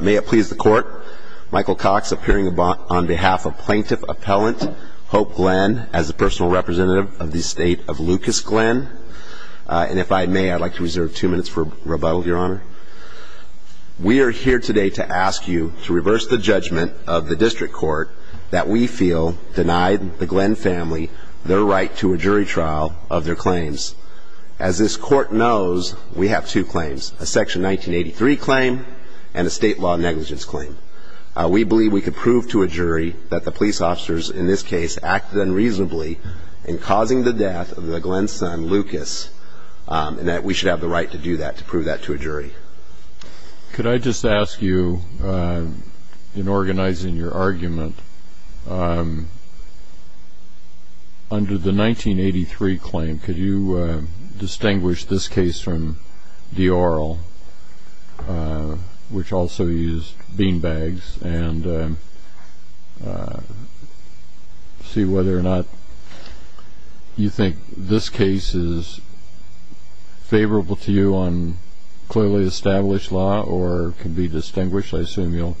May it please the court Michael Cox appearing on behalf of plaintiff appellant Hope Glenn as a personal representative of the state of Lucas Glenn and if I may I'd like to reserve two minutes for rebuttal your honor. We are here today to ask you to reverse the judgment of the district court that we feel denied the Glenn family their right to a jury trial of their claims. As this state law negligence claim. We believe we could prove to a jury that the police officers in this case acted unreasonably in causing the death of the Glenn son Lucas and that we should have the right to do that to prove that to a jury. Could I just ask you in organizing your argument under the 1983 claim could you distinguish this case from the oral which also used beanbags and see whether or not you think this case is favorable to you on clearly established law or can be distinguished I assume you'll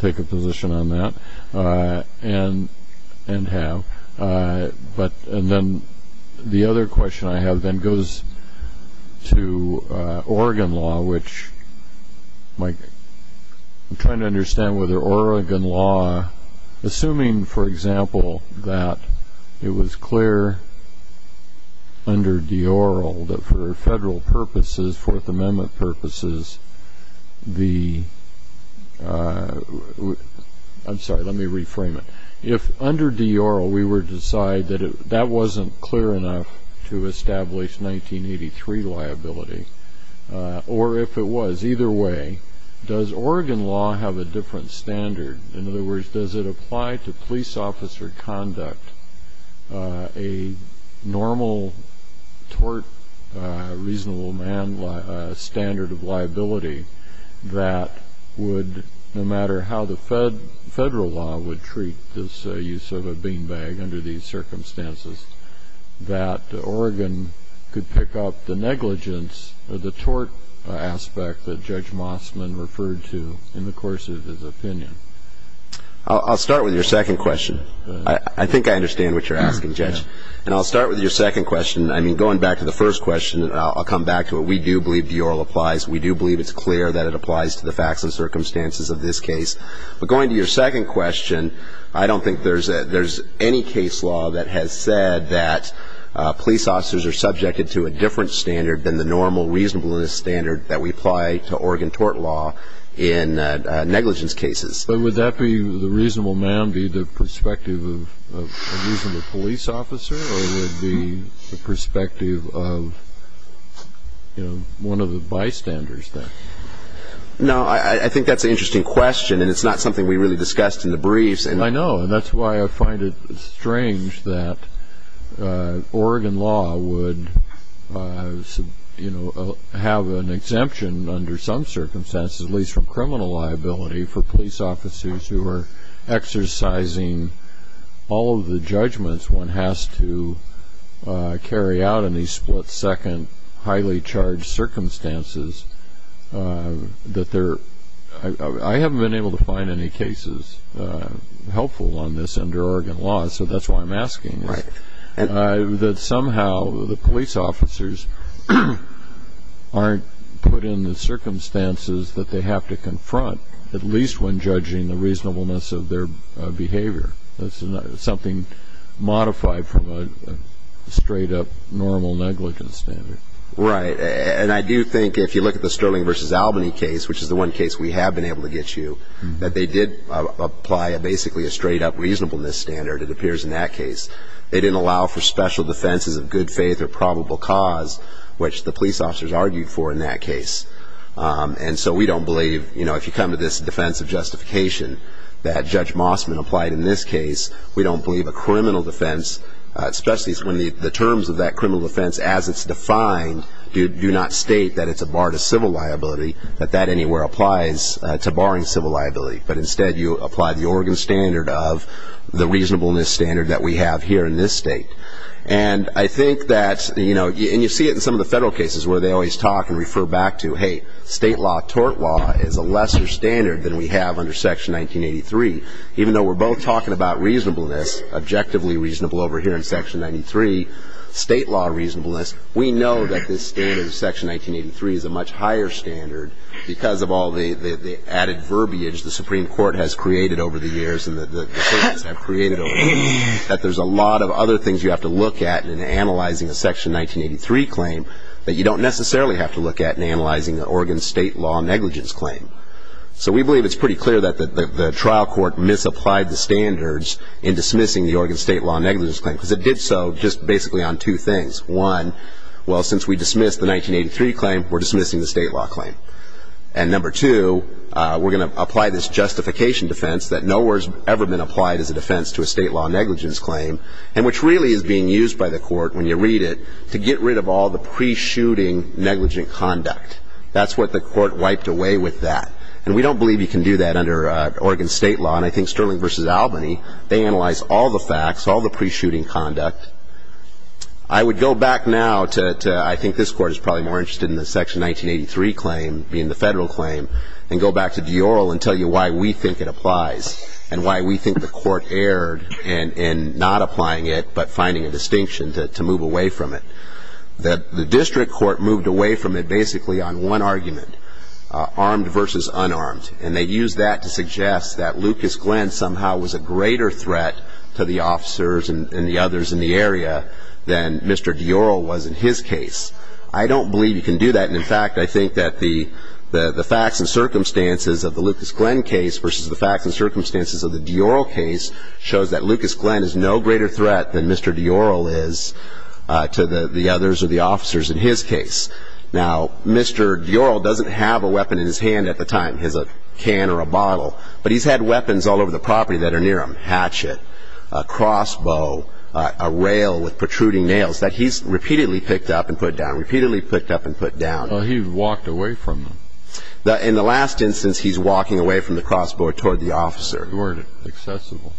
take a position on that and and have but and the other question I have then goes to Oregon law which Mike I'm trying to understand whether Oregon law assuming for example that it was clear under the oral that for federal purposes Fourth Amendment purposes the I'm sorry let me clear enough to establish 1983 liability or if it was either way does Oregon law have a different standard in other words does it apply to police officer conduct a normal tort reasonable man standard of liability that would no matter how the federal law would treat this use of a beanbag under these circumstances that Oregon could pick up the negligence of the tort aspect that Judge Mossman referred to in the course of his opinion I'll start with your second question I think I understand what you're asking judge and I'll start with your second question I mean going back to the first question I'll come back to it we do believe the oral applies we do believe it's clear that it applies to the facts and circumstances of this case but going to your second question I don't think there's that there's any case law that has said that police officers are subjected to a different standard than the normal reasonableness standard that we apply to Oregon tort law in negligence cases but would that be the reasonable man be the perspective of the police officer or would be the bystanders that no I think that's an interesting question and it's not something we really discussed in the briefs and I know and that's why I find it strange that Oregon law would you know have an exemption under some circumstances at least from criminal liability for police officers who are exercising all of the judgments one has to carry out in these split-second highly-charged circumstances that there I haven't been able to find any cases helpful on this under Oregon law so that's why I'm asking right and that somehow the police officers aren't put in the circumstances that they have to confront at least when judging the reasonableness of their behavior that's something modified from a straight-up normal negligence standard right and I do think if you look at the sterling versus Albany case which is the one case we have been able to get you that they did apply a basically a straight-up reasonableness standard it appears in that case they didn't allow for special defenses of good faith or probable cause which the police officers argued for in that case and so we don't believe you know if you come to this defense of case we don't believe a criminal defense especially when the terms of that criminal defense as it's defined you do not state that it's a bar to civil liability that that anywhere applies to barring civil liability but instead you apply the Oregon standard of the reasonableness standard that we have here in this state and I think that you know you see it in some of the federal cases where they always talk and refer back to hey state law tort law is a lesser standard than we have under section 1983 even though we're both talking about reasonableness objectively reasonable over here in section 93 state law reasonableness we know that this is section 1983 is a much higher standard because of all the added verbiage the Supreme Court has created over the years and that there's a lot of other things you have to look at in analyzing a section 1983 claim that you don't necessarily have to look at in analyzing the Oregon state law negligence claim so we believe it's pretty clear that the trial court misapplied the standards in dismissing the Oregon state law negligence claim because it did so just basically on two things one well since we dismissed the 1983 claim we're dismissing the state law claim and number two we're gonna apply this justification defense that no words ever been applied as a defense to a state law negligence claim and which really is being used by the court when you read it to get rid of all the pre-shooting negligent conduct that's what the court wiped away with that and we don't believe you can do that under Oregon state law and I think Sterling versus Albany they analyze all the facts all the pre-shooting conduct I would go back now to I think this court is probably more interested in the section 1983 claim being the federal claim and go back to Dior and tell you why we think it applies and why we think the court erred and in not applying it but finding a distinction to move away from it that the district court moved away from it basically on one argument armed versus unarmed and they use that to suggest that Lucas Glenn somehow was a greater threat to the officers and the others in the area then mr. Dior was in his case I don't believe you can do that and in fact I think that the the the facts and circumstances of the Lucas Glenn case versus the facts and circumstances of the Dior case shows that Lucas Glenn is no greater threat than mr. Dior is to the the others or the officers in his case now mr. Dior doesn't have a weapon in his hand at the time has a can or a bottle but he's had weapons all over the property that are near him hatchet a crossbow a rail with protruding nails that he's repeatedly picked up and put down repeatedly picked up and put down he walked away from the in the last instance he's walking away from the crossbow toward the officer weren't accessible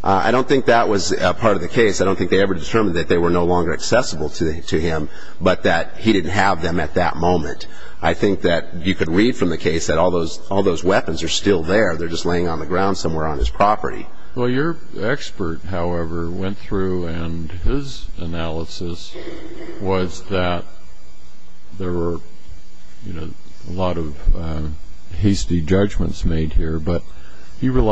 I don't think that was a part of the case I don't think ever determined that they were no longer accessible to him but that he didn't have them at that moment I think that you could read from the case that all those all those weapons are still there they're just laying on the ground somewhere on his property well your expert however went through and his analysis was that there were you know a lot of hasty judgments made here but he which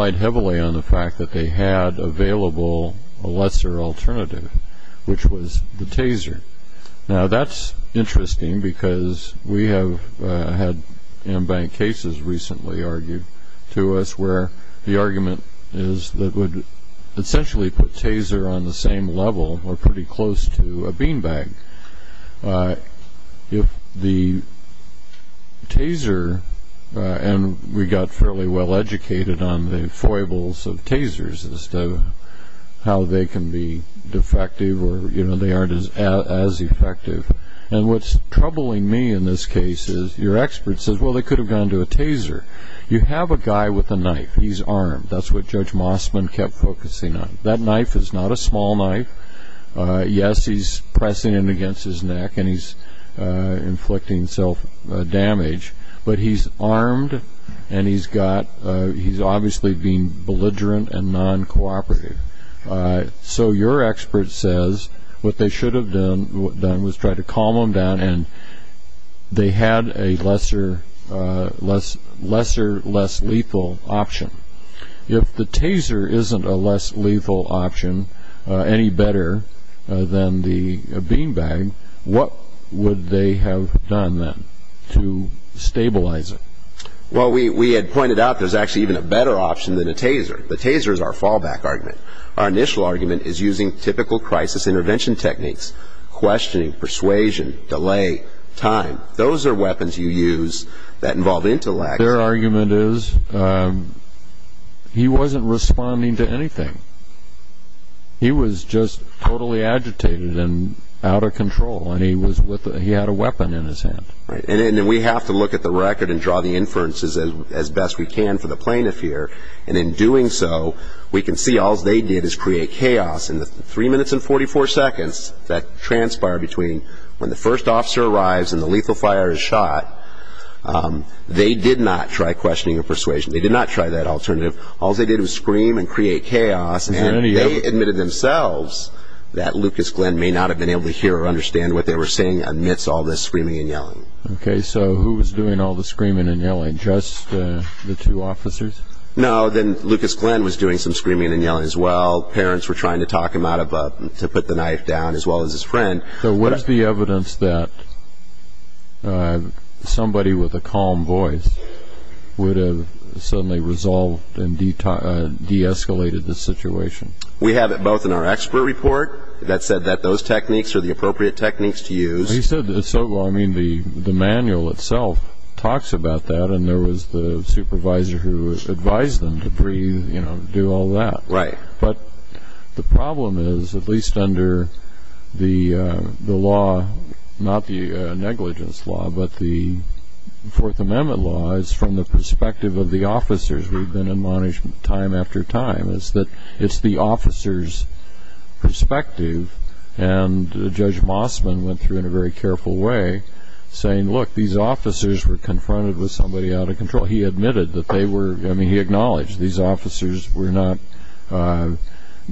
was the taser now that's interesting because we have had in bank cases recently argued to us where the argument is that would essentially put taser on the same level or pretty close to a beanbag if the taser and we got well-educated on the foibles of tasers as to how they can be defective or you know they aren't as effective and what's troubling me in this case is your expert says well they could have gone to a taser you have a guy with a knife he's armed that's what judge Mossman kept focusing on that knife is not a small knife yes he's pressing in against his neck and he's inflicting self-damage but he's armed and he's got he's obviously being belligerent and non-cooperative so your expert says what they should have done done was try to calm them down and they had a lesser less lesser less lethal option if the taser isn't a less lethal option any better than the beanbag what would they have done then stabilize it well we we had pointed out there's actually even a better option than a taser the taser is our fallback argument our initial argument is using typical crisis intervention techniques questioning persuasion delay time those are weapons you use that involve intellect their argument is he wasn't responding to anything he was just totally agitated and out of control and he had a weapon in his hand and then we have to look at the record and draw the inferences as best we can for the plaintiff here and in doing so we can see all they did is create chaos in the three minutes and 44 seconds that transpired between when the first officer arrives and the lethal fire is shot they did not try questioning a persuasion they did not try that alternative all they did was scream and create chaos and they admitted themselves that Lucas Glenn may not have been able to hear or understand what they were saying amidst all this screaming and yelling okay so who was doing all the screaming and yelling just the two officers no then Lucas Glenn was doing some screaming and yelling as well parents were trying to talk him out of to put the knife down as well as his friend so what is the evidence that somebody with a calm voice would have suddenly resolved and de-escalated the situation we have it both in our expert report that said that those techniques to use the manual itself talks about that and there was the supervisor who advised them to breathe you know do all that right but the problem is at least under the law not the negligence law but the Fourth Amendment laws from the perspective of the officers we've been admonished time after time is that it's the officers perspective and Judge Mossman went through in a very careful way saying look these officers were confronted with somebody out of control he admitted that they were I mean he acknowledged these officers were not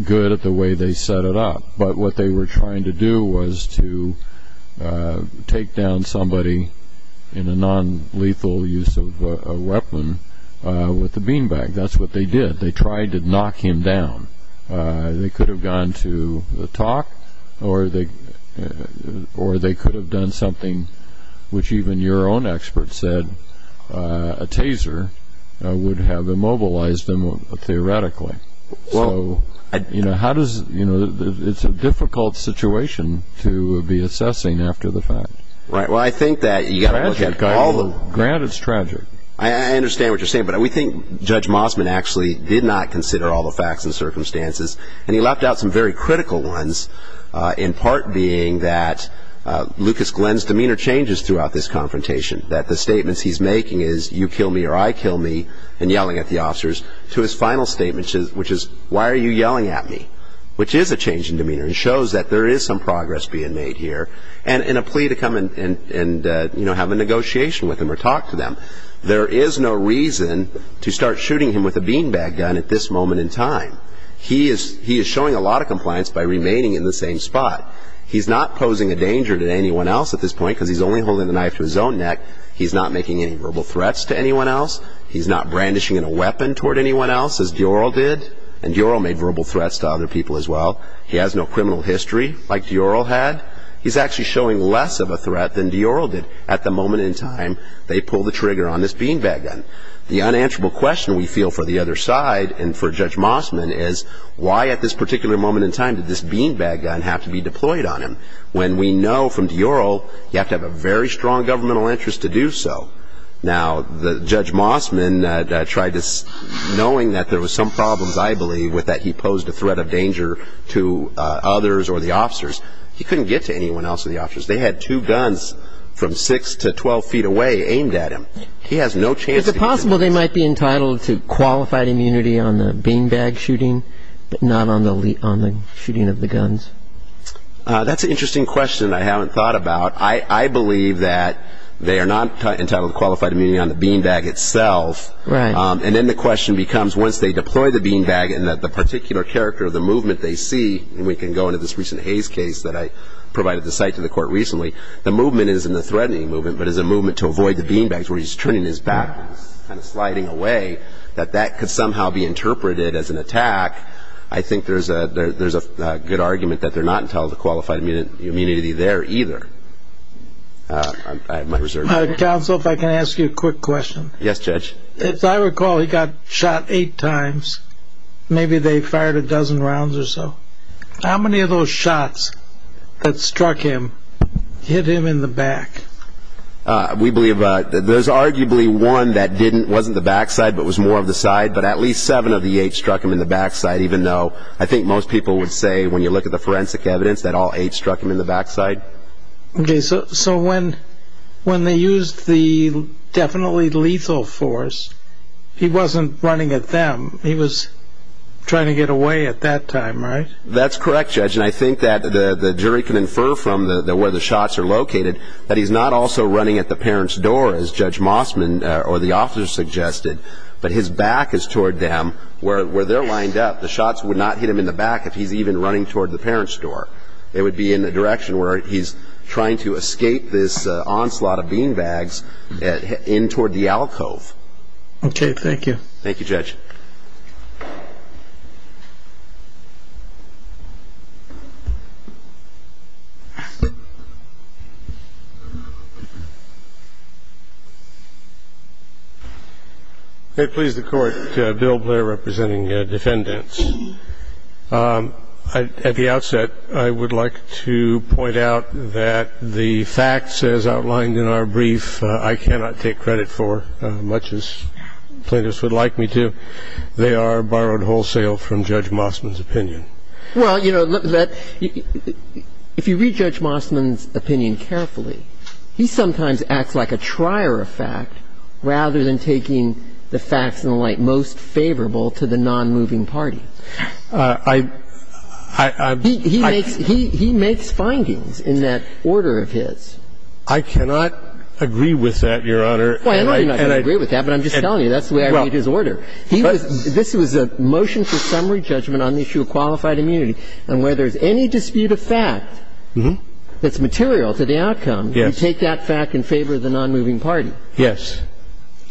good at the way they set it up but what they were trying to do was to take down somebody in a non-lethal use of a weapon with the did they tried to knock him down they could have gone to the talk or they or they could have done something which even your own experts said a taser would have immobilized them theoretically well you know how does you know it's a difficult situation to be assessing after the fact right well I think that you got all the ground it's tragic I understand what you're saying but we think Judge Mossman actually did not consider all the facts and circumstances and he left out some very critical ones in part being that Lucas Glenn's demeanor changes throughout this confrontation that the statements he's making is you kill me or I kill me and yelling at the officers to his final statement which is why are you yelling at me which is a change in demeanor and shows that there is some progress being made here and in a plea to come in and have a negotiation with him or talk to them there is no reason to start shooting him with a beanbag gun at this moment in time he is he is showing a lot of compliance by remaining in the same spot he's not posing a danger to anyone else at this point because he's only holding the knife to his own neck he's not making any verbal threats to anyone else he's not brandishing a weapon toward anyone else as Dior did and Dior made verbal threats to other people as well he has no criminal history like Dior had he's actually showing less of a at the moment in time they pull the trigger on this beanbag gun the unanswerable question we feel for the other side and for Judge Mossman is why at this particular moment in time did this beanbag gun have to be deployed on him when we know from Dior you have to have a very strong governmental interest to do so now the Judge Mossman tried to knowing that there was some problems I believe with that he posed a threat of danger to others or the officers he from six to twelve feet away aimed at him he has no chance is it possible they might be entitled to qualified immunity on the beanbag shooting but not on the lead on the shooting of the guns that's an interesting question I haven't thought about I I believe that they are not entitled to qualified immunity on the beanbag itself right and then the question becomes once they deploy the beanbag and that the particular character of the movement they see and we can go into this recent Hayes case that I provided the site to the court recently the movement is in the threatening movement but as a movement to avoid the beanbags where he's turning his back and sliding away that that could somehow be interpreted as an attack I think there's a there's a good argument that they're not entitled to qualified immunity there either counsel if I can ask you a quick question yes judge if I recall he got shot eight times maybe they fired a dozen rounds or so how many of those shots that struck him hit him in the back we believe that there's arguably one that didn't wasn't the backside but was more of the side but at least seven of the eight struck him in the backside even though I think most people would say when you look at the forensic evidence that all eight struck him in the backside okay so so when when they used the definitely lethal force he wasn't running at them he was trying to get away at that time right that's that the jury can infer from the where the shots are located that he's not also running at the parents door as judge Mossman or the officer suggested but his back is toward them where they're lined up the shots would not hit him in the back if he's even running toward the parents door it would be in the direction where he's trying to escape this onslaught of beanbags in toward the alcove okay thank you thank you judge they please the court bill Blair representing defendants at the outset I would like to point out that the facts as outlined in our brief I cannot take credit for much as plaintiffs would like me to they are borrowed wholesale from judge Mossman's opinion well you know that if you read judge Mossman's opinion carefully he sometimes acts like a trier of fact rather than taking the facts in the light most favorable to the non-moving party I he makes findings in that order of his I cannot agree with that your honor well I don't agree with that but I'm just telling you that's the way I read his order he was this was a motion for summary judgment on the issue of qualified immunity and where there's any dispute of fact that's material to the outcome you take that fact in favor of the non-moving party yes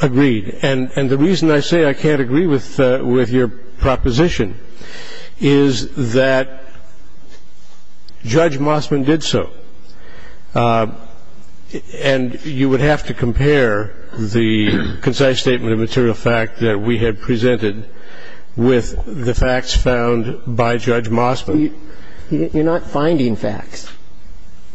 agreed and and the reason I say I can't agree with with your proposition is that judge Mossman did so and you would have to compare the concise statement of material fact that we had presented with the facts found by judge Mossman you're not finding facts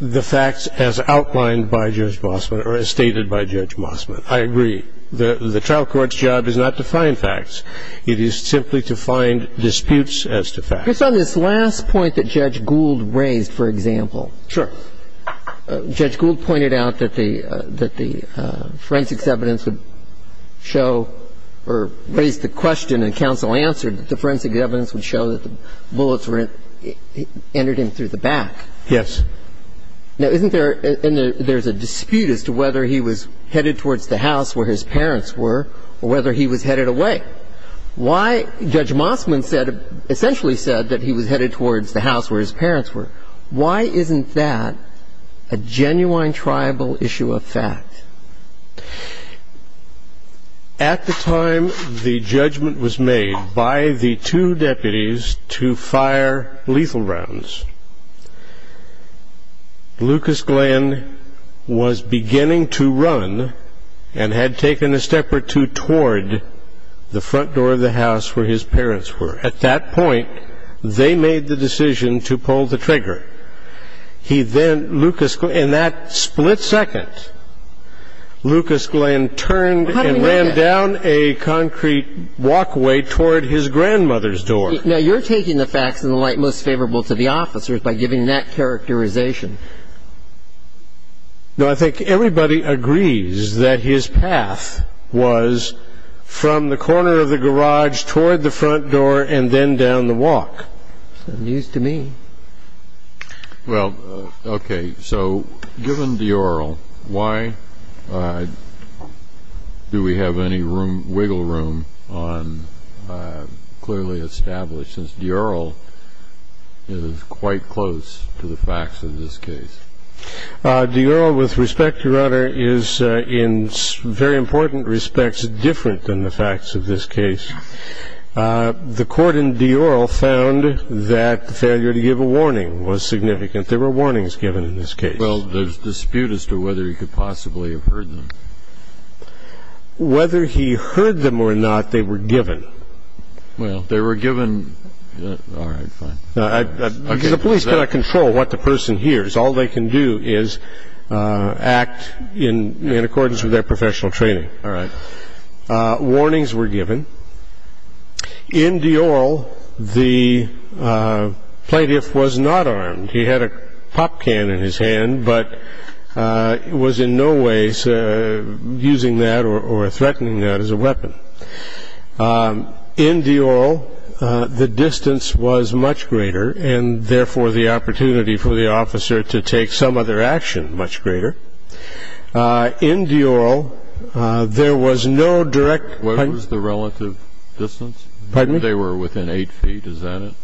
the facts as outlined by judge Mossman or as stated by judge Mossman I agree the the trial court's job is not to find facts it is simply to find disputes as to fact it's on this last point that judge Gould raised for example sure judge Gould pointed out that the that the forensics evidence would show or raise the question and counsel answered the forensic evidence would show that the bullets were entered in through the back yes now isn't there and there's a dispute as to whether he was headed towards the house where his parents were or whether he was headed away why judge Mossman said essentially said that he was headed towards the house where his parents were why isn't that a genuine tribal issue of fact at the time the judgment was made by the two deputies to fire lethal rounds Lucas Glenn was beginning to run and had taken a step or two toward the front door of the decision to pull the trigger he then Lucas in that split second Lucas Glenn turned and ran down a concrete walkway toward his grandmother's door now you're taking the facts in the light most favorable to the officers by giving that characterization I think everybody agrees that his path was from the corner of the garage toward the front door and then down the walk news to me well okay so given the oral why do we have any room wiggle room on clearly established since the oral is quite close to the facts of this case the URL with respect your honor is in very important respects different than the facts of this case the court in the oral found that the failure to give a warning was significant there were warnings given in this case well there's dispute as to whether he could possibly have heard them whether he heard them or not they were given well they were given the police cannot control what the person hears all they can do is act in accordance with their professional training warnings were given in the oral the plaintiff was not armed he had a pop can in his hand but it was in no way using that or threatening that as a weapon in the oral the distance was much greater and therefore the opportunity for the some other action much greater in the oral there was no direct was the relative distance but they were within 8 feet is that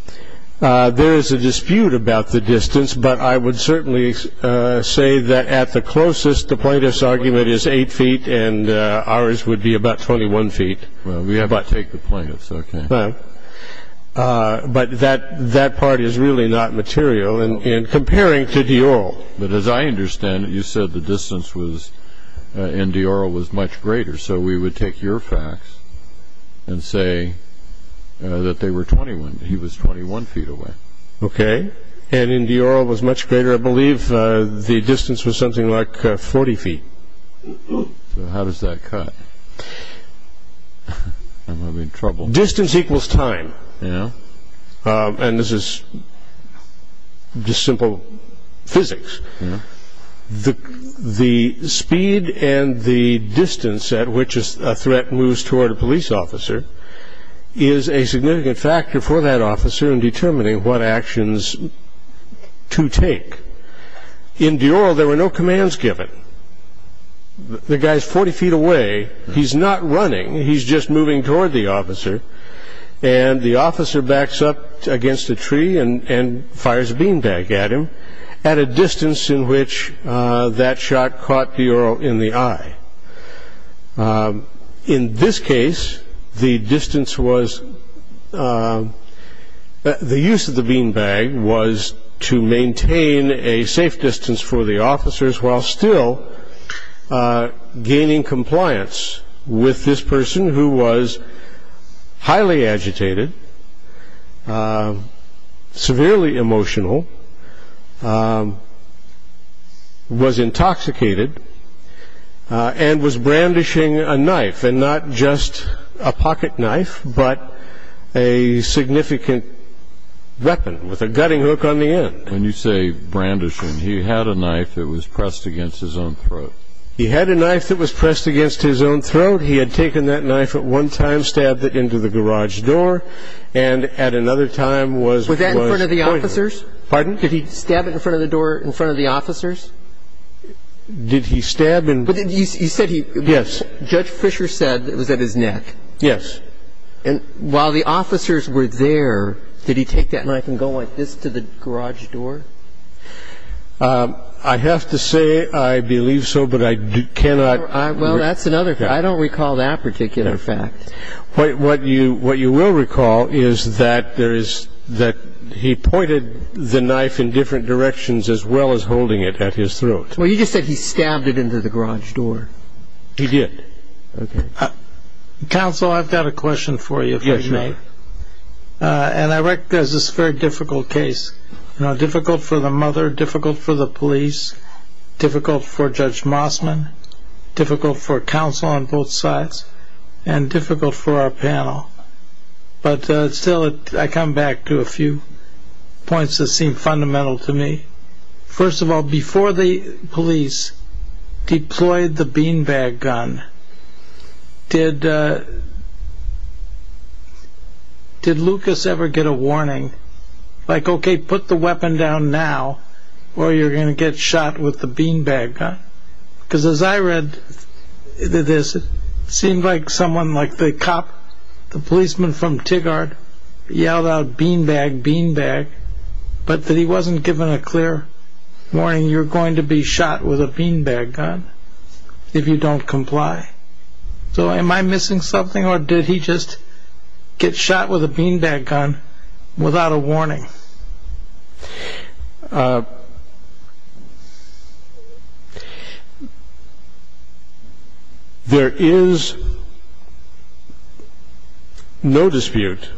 there is a dispute about the distance but I would certainly say that at the closest the plaintiff's argument is 8 feet and ours would be about 21 feet we have I take the plaintiffs okay but that that part is really not material and in comparing to the oral but as I understand it you said the distance was in the oral was much greater so we would take your facts and say that they were 21 he was 21 feet away okay and in the oral was much greater I believe the distance was something like 40 feet so how does that cut I'm having trouble distance equals time yeah and this is just simple physics the the speed and the distance at which is a threat moves toward a police officer is a significant factor for that officer in determining what actions to take in the oral there were no commands given the guy's 40 feet away he's not running he's just moving toward the officer and the officer backs up against a tree and fires a beanbag at him at a distance in which that shot caught the oral in the eye in this case the distance was the use of the beanbag was to maintain a safe distance for the highly agitated severely emotional was intoxicated and was brandishing a knife and not just a pocket knife but a significant weapon with a gutting hook on the end when you say brandishing he had a knife that was pressed against his own throat he had a knife that was pressed against his own throat he had taken that knife at one time stabbed it into the garage door and at another time was was that in front of the officers pardon did he stab it in front of the door in front of the officers did he stab him but then he said he yes Judge Fisher said it was at his neck yes and while the officers were there did he take that knife and go like this to the garage door I have to say I believe so but I do cannot I well that's another thing I don't recall that particular fact what you what you will recall is that there is that he pointed the knife in different directions as well as holding it at his throat well you just said he stabbed it into the garage door he did council I've got a question for you yes and I recognize this very difficult case difficult for Judge Mossman difficult for counsel on both sides and difficult for our panel but still it I come back to a few points that seem fundamental to me first of all before the police deployed the beanbag gun did did Lucas ever get a warning like okay put the weapon down now or you're gonna get shot with the beanbag gun because as I read this it seemed like someone like the cop the policeman from Tigard yelled out beanbag beanbag but that he wasn't given a clear warning you're going to be shot with a beanbag gun if you don't comply so am I missing something or did he just get shot with a beanbag gun without a warning there is no dispute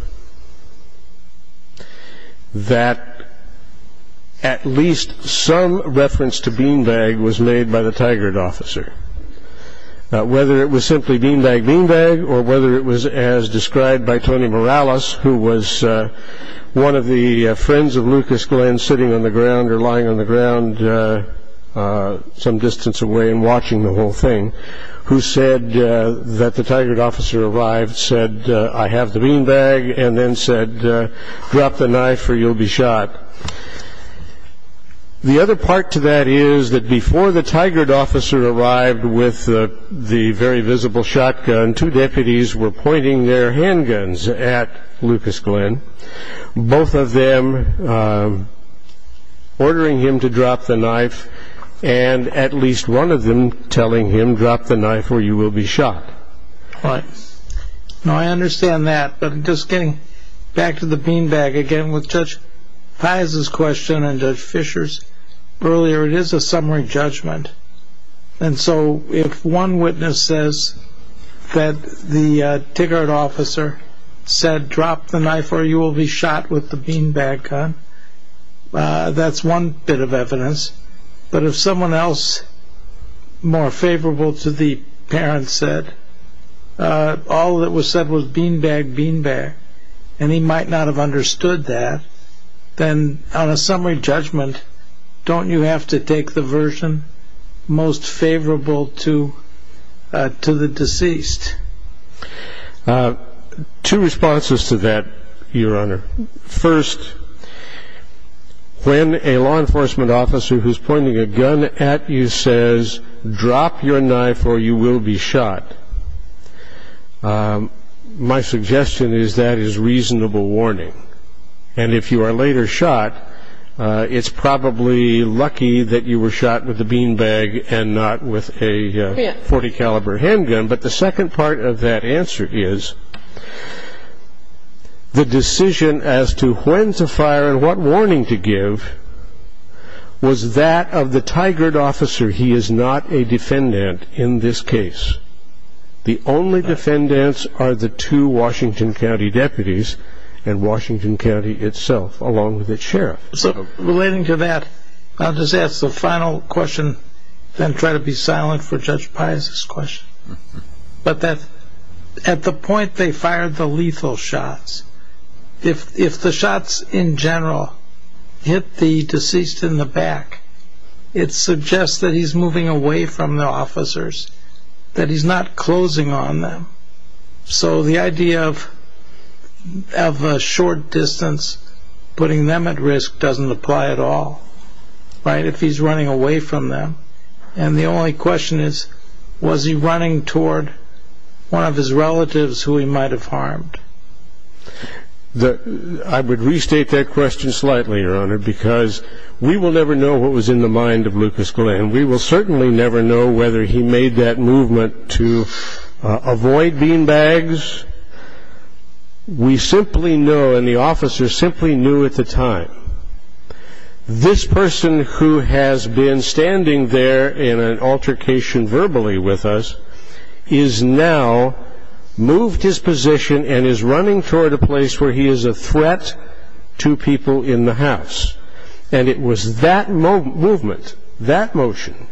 that at least some reference to beanbag was made by the Tigard officer whether it was simply beanbag beanbag or whether it was as described by Tony Morales who was one of the friends of Lucas Glenn sitting on the ground or lying on the ground some distance away and watching the whole thing who said that the Tigard officer arrived said I have the beanbag and then said drop the knife or you'll be shot the other part to that is that before the Tigard officer arrived with the very visible shotgun two deputies were pointing their handguns at Lucas Glenn both of them ordering him to drop the knife and at least one of them telling him drop the knife or you will be shot I understand that but I'm just getting back to the beanbag again with Judge Pais' question and Judge Fisher's earlier it is a summary judgment and so if one witness says that the Tigard officer said drop the knife or you will be shot with the beanbag gun that's one bit of evidence but if someone else more favorable to the parent said all that was beanbag beanbag and he might not have understood that then on a summary judgment don't you have to take the version most favorable to the deceased two responses to that your honor first when a law enforcement officer who's pointing a gun at you says drop your knife or you will be shot my suggestion is that is reasonable warning and if you are later shot it's probably lucky that you were shot with the beanbag and not with a .40 caliber handgun but the second part of that answer is the decision as to when to fire and what in this case the only defendants are the two Washington County deputies and Washington County itself along with the sheriff so relating to that I'll just ask the final question then try to be silent for Judge Pais' question but that at the point they fired the lethal shots if the shots in general hit the deceased in the back it suggests that he's moving away from the officers that he's not closing on them so the idea of a short distance putting them at risk doesn't apply at all right if he's running away from them and the only question is was he running toward one of his relatives who he might have harmed the I would restate that question slightly your honor because we will never know what was in the mind of we will never know whether he made that movement to avoid beanbags we simply know and the officers simply knew at the time this person who has been standing there in an altercation verbally with us is now moved his position and is running toward a place where he is a threat to people in the house and it was that movement that motion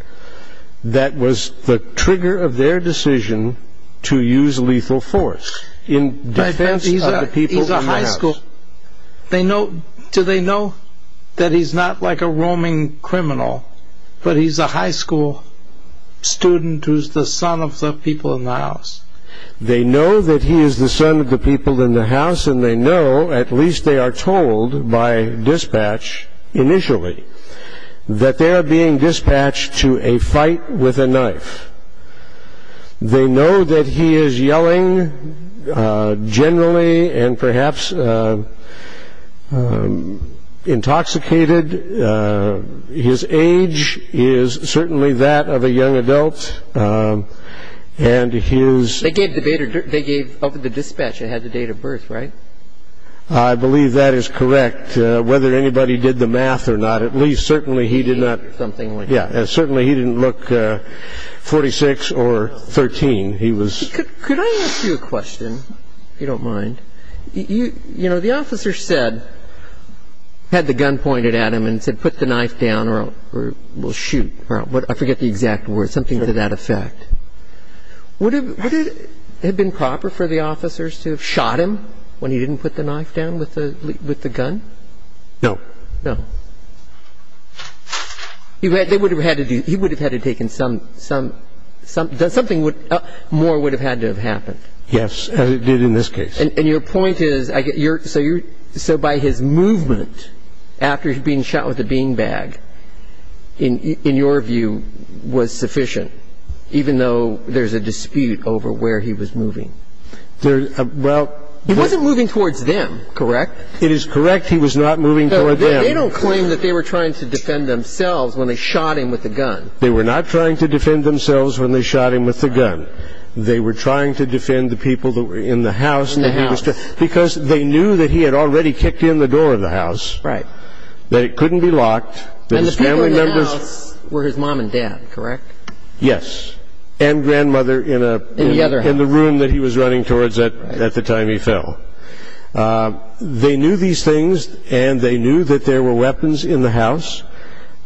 that was the trigger of their decision to use lethal force in defense of the people in the house they know do they know that he's not like a roaming criminal but he's a high school student who's the son of the people in the house they know that he is the son of the people in the house and they know at the dispatch initially that they are being dispatched to a fight with a knife they know that he is yelling generally and perhaps intoxicated his age is certainly that of a young adult and he was they gave the data they gave over the dispatch I had the date of birth right I believe that is correct whether anybody did the math or not at least certainly he did not something like yeah certainly he didn't look 46 or 13 he was could I ask you a question you don't mind you you know the officer said had the gun pointed at him and said put the knife down or we'll shoot I forget the exact word something to that effect would have been proper for the officers to have shot him when he didn't put the knife down with the with the gun no no you had they would have had to do he would have had to taken some some something would more would have had to have happened yes it did in this case and your point is I get your so you're so by his movement after being shot with a beanbag in in your view was sufficient even though there's a dispute over where he was moving there well he wasn't moving towards them correct it is correct he was not moving they don't claim that they were trying to defend themselves when they shot him with the gun they were not trying to defend themselves when they shot him with the gun they were trying to defend the people that were in the house and the house because they knew that he had already kicked in the door of the house right that it couldn't be locked the family members were his mom and dad correct yes and grandmother in a the other in the room that he was running towards that at the time he fell they knew these things and they knew that there were weapons in the house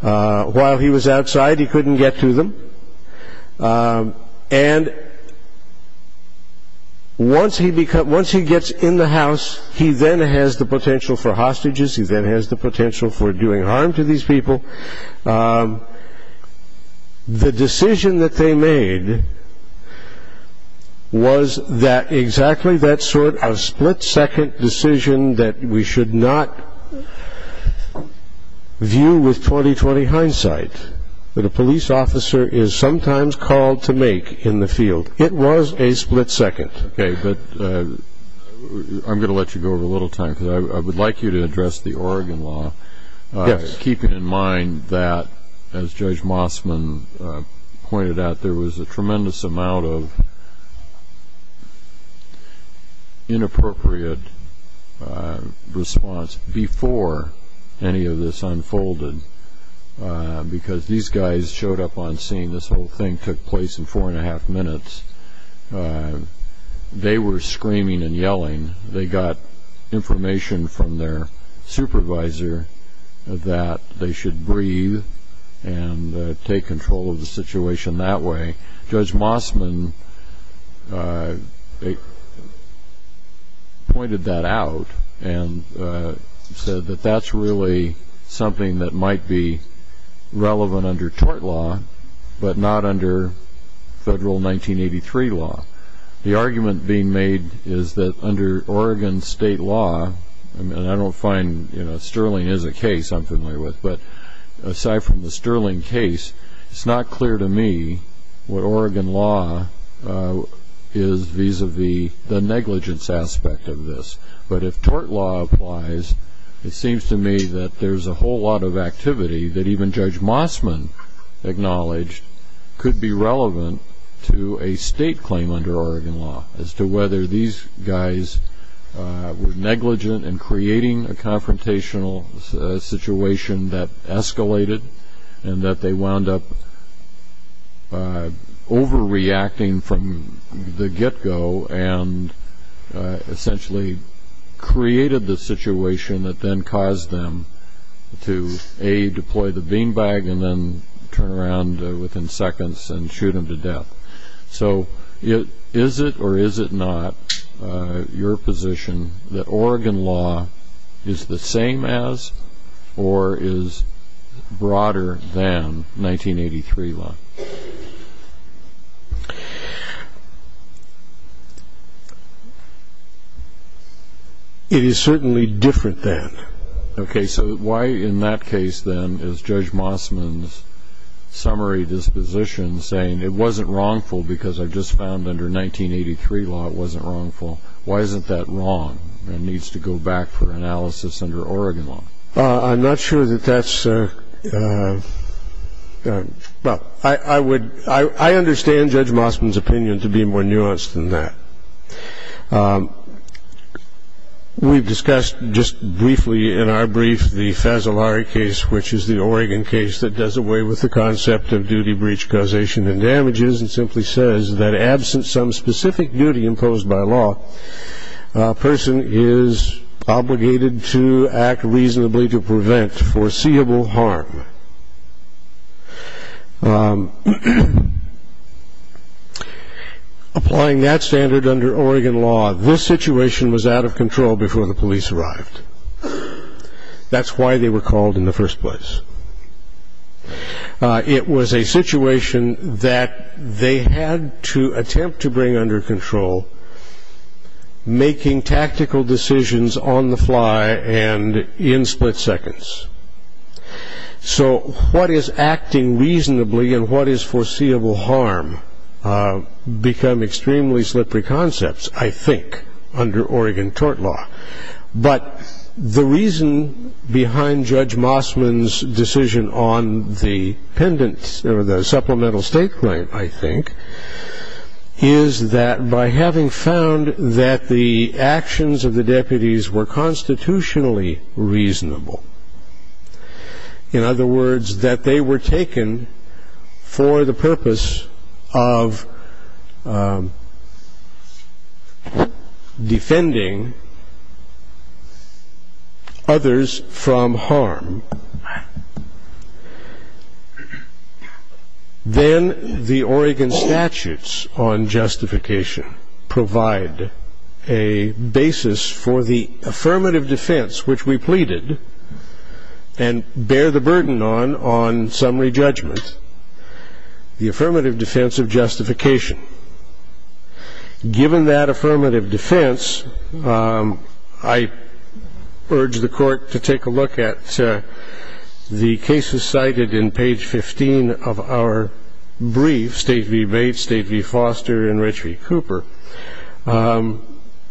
while he was outside he couldn't get to them and once he become once he gets in the house he then has the potential for hostages he then has the potential for doing harm to these people the decision that they made was that exactly that sort of split-second decision that we should not view with 20-20 hindsight but a police officer is sometimes called to make in the field it was a little time because I would like you to address the Oregon law yes keeping in mind that as Judge Mossman pointed out there was a tremendous amount of inappropriate response before any of this unfolded because these guys showed up on scene this whole thing took place in four and a half minutes they were screaming and yelling they got information from their supervisor that they should breathe and take control of the situation that way Judge Mossman pointed that out and said that that's really something that might be relevant under tort law but not under federal 1983 law the argument being made is that under Oregon state law and I don't find you know sterling is a case I'm familiar with but aside from the sterling case it's not clear to me what Oregon law is vis-a-vis the negligence aspect of this but if tort law applies it seems to me that there's a whole lot of activity that even Judge Mossman acknowledged could be relevant to a state claim under Oregon law as to whether these guys were negligent in creating a confrontational situation that essentially created the situation that then caused them to a deploy the beanbag and then turn around within seconds and shoot him to death so it is it or is it not your position that Oregon law is the same as or is broader than 1983 law it is certainly different that okay so why in that case then is Judge Mossman's summary disposition saying it wasn't wrongful because I just found under 1983 law it wasn't wrongful why isn't that wrong and needs to go back for analysis under Oregon law I'm not sure that that's well I I would I understand Judge Mossman's opinion to be more nuanced than that we've discussed just briefly in our brief the Fasolari case which is the Oregon case that does away with the concept of duty breach causation and damages and simply says that absent some specific duty imposed by law person is obligated to act reasonably to prevent foreseeable harm applying that standard under Oregon law this situation was out of control before the police arrived that's why they were called in the first place it was a situation that they had to attempt to bring under control making tactical decisions on the fly and in split seconds so what is acting reasonably and what is foreseeable harm become extremely slippery concepts I think under Oregon tort law but the reason behind Judge Mossman's decision on the pendants or the supplemental state claim I think is that by having found that the actions of the deputies were constitutionally reasonable in other words that they were taken for the purpose of defending others from harm then the Oregon statutes on justification provide a basis for the affirmative defense which we pleaded and bear the burden on on summary judgments the affirmative defense of justification given that the cases cited in page 15 of our brief State v. Bates State v. Foster and Rich v. Cooper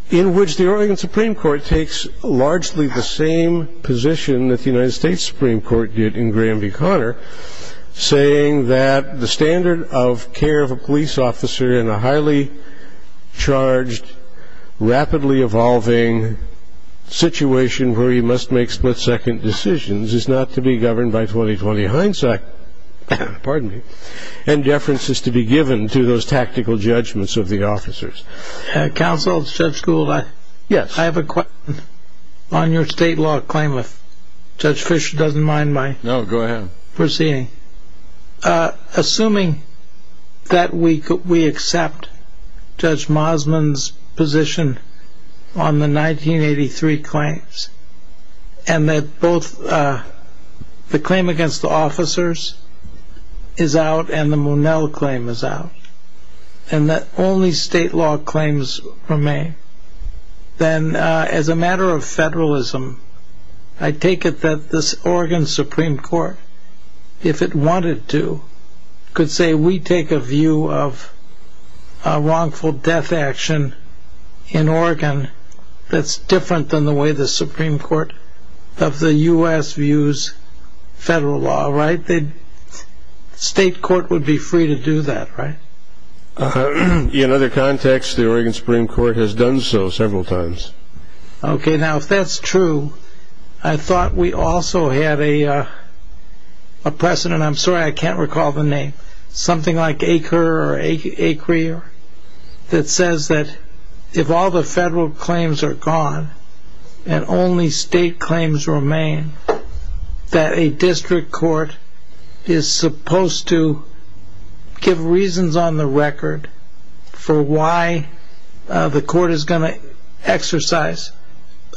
in which the Oregon Supreme Court takes largely the same position that the United States Supreme Court did in Graham v. Connor saying that the standard of care of a police officer in a highly charged rapidly evolving situation where you must make split-second decisions is not to be governed by 20-20 hindsight and deference is to be given to those tactical judgments of the officers. Counsel Judge Gould I have a question on your state law claim if Judge Fischer doesn't mind my proceeding. Assuming that we accept Judge Mossman's position on the 1983 claims and that both the claim against the officers is out and the Monell claim is out and that only state law claims remain then as a matter of federalism I take it that this Oregon Supreme Court if it wanted to could say we take a view of a wrongful death action in Oregon that's different than the way the Supreme Court of the U.S. views federal law right? The state court would be free to do that right? In other contexts the Oregon Supreme Court has done so several times. Okay now if that's true I thought we also had a precedent I'm sorry I can't recall the name something like Acre or Acre that says that if all the federal claims are gone and only state claims remain that a district court is supposed to give reasons on the record for why the court is going to exercise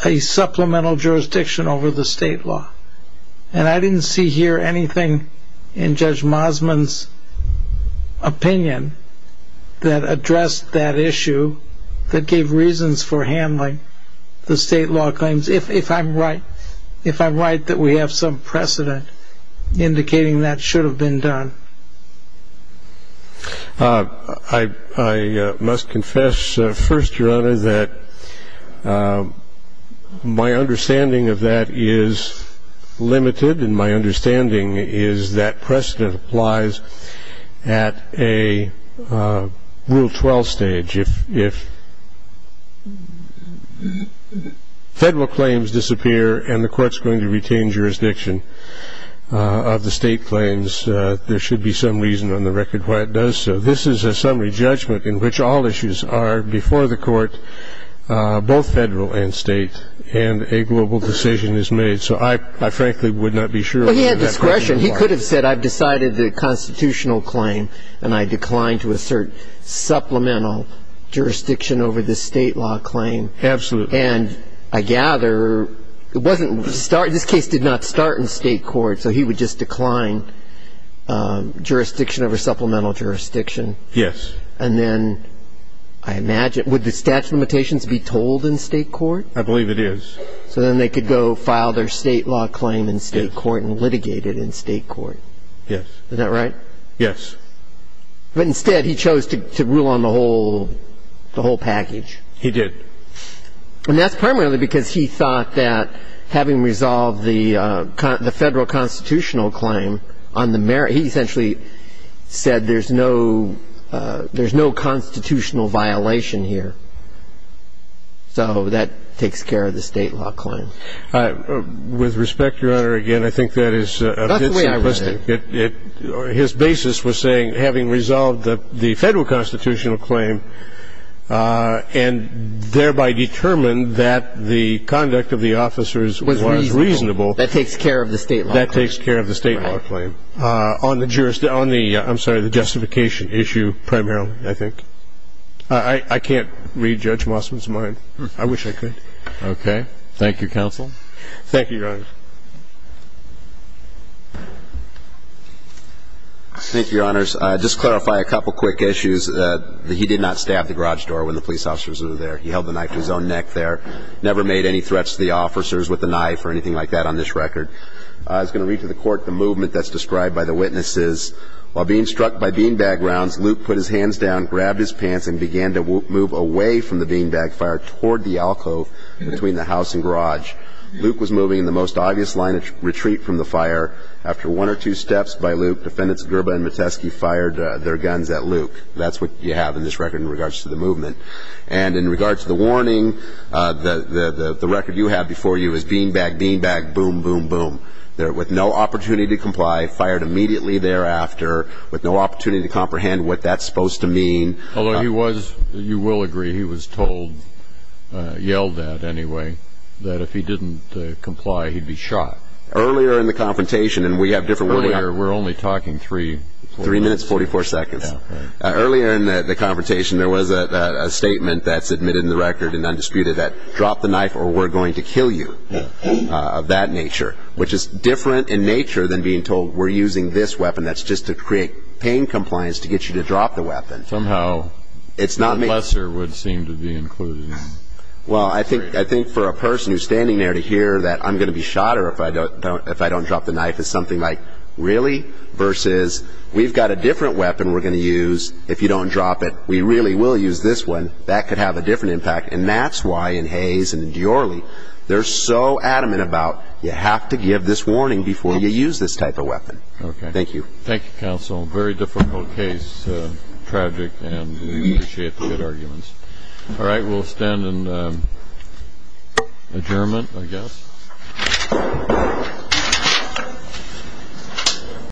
a supplemental jurisdiction over the state law and I didn't see here anything in Judge Mossman's opinion that addressed that issue that gave reasons for handling the state law claims if I'm right if I'm right that we have some precedent indicating that should have been done? I must confess first your honor that my understanding of that is limited and my understanding is that precedent applies at a rule 12 stage if federal claims disappear and the courts going to retain jurisdiction of the state claims there should be some reason on the record why it does so this is a summary judgment in which all issues are before the court both federal and state and a global decision is made so I frankly would not be sure Well he had discretion he could have said I've decided the constitutional claim and I declined to assert supplemental jurisdiction over the state law claim and I gather it wasn't this case did not start in state court so he would just decline jurisdiction over supplemental jurisdiction and then I imagine would the statute of limitations be told in state court? I believe it is So then they could go file their state law claim in state court and litigate it in state court? Yes Isn't that right? Yes But instead he chose to rule on the whole package He did And that's primarily because he thought that having resolved the federal constitutional claim on the merit he essentially said there's no constitutional violation here so that takes care of the state law claim With respect your honor again I think that is his basis was saying having resolved the federal constitutional claim and thereby determined that the conduct of the officers was reasonable That takes care of the state law claim That takes care of the state law claim on the justification issue primarily I think I can't read Judge Mossman's mind I wish I could Okay thank you counsel Thank you your honor Thank you your honors just clarify a couple quick issues that he did not stab the garage door when the police officers were there he held the knife to his own neck there never made any threats to the officers with a knife or anything like that on this record I was going to read to the court the movement that's described by the witnesses while being struck by beanbag rounds Luke put his hands down grabbed his pants and began to move away from the beanbag fire toward the alcove between the house and garage Luke was moving in the most obvious line of retreat from the fire after one or two steps by Luke defendants Gerba and Metesky fired their guns at Luke that's what you have in this record in regards to the movement and in regards to the warning the record you have before you is beanbag beanbag boom boom boom With no opportunity to comply fired immediately thereafter with no opportunity to comprehend what that's supposed to mean Although he was you will agree he was told yelled at anyway that if he didn't comply he'd be shot Earlier in the confrontation and we have different earlier we're only talking three Three minutes 44 seconds earlier in the confrontation there was a statement that's admitted in the record and undisputed that drop the knife or we're going to kill you Of that nature which is different in nature than being told we're using this weapon that's just to create pain compliance to get you to drop the weapon somehow It's not lesser would seem to be included Well, I think I think for a person who's standing there to hear that i'm going to be shot or if I don't don't if I don't Drop the knife is something like really versus we've got a different weapon We're going to use if you don't drop it We really will use this one that could have a different impact and that's why in hayes and deorley They're so adamant about you have to give this warning before you use this type of weapon. Okay. Thank you. Thank you council very difficult case Tragic and we appreciate the good arguments All right, we'll stand and um Adjournment, I guess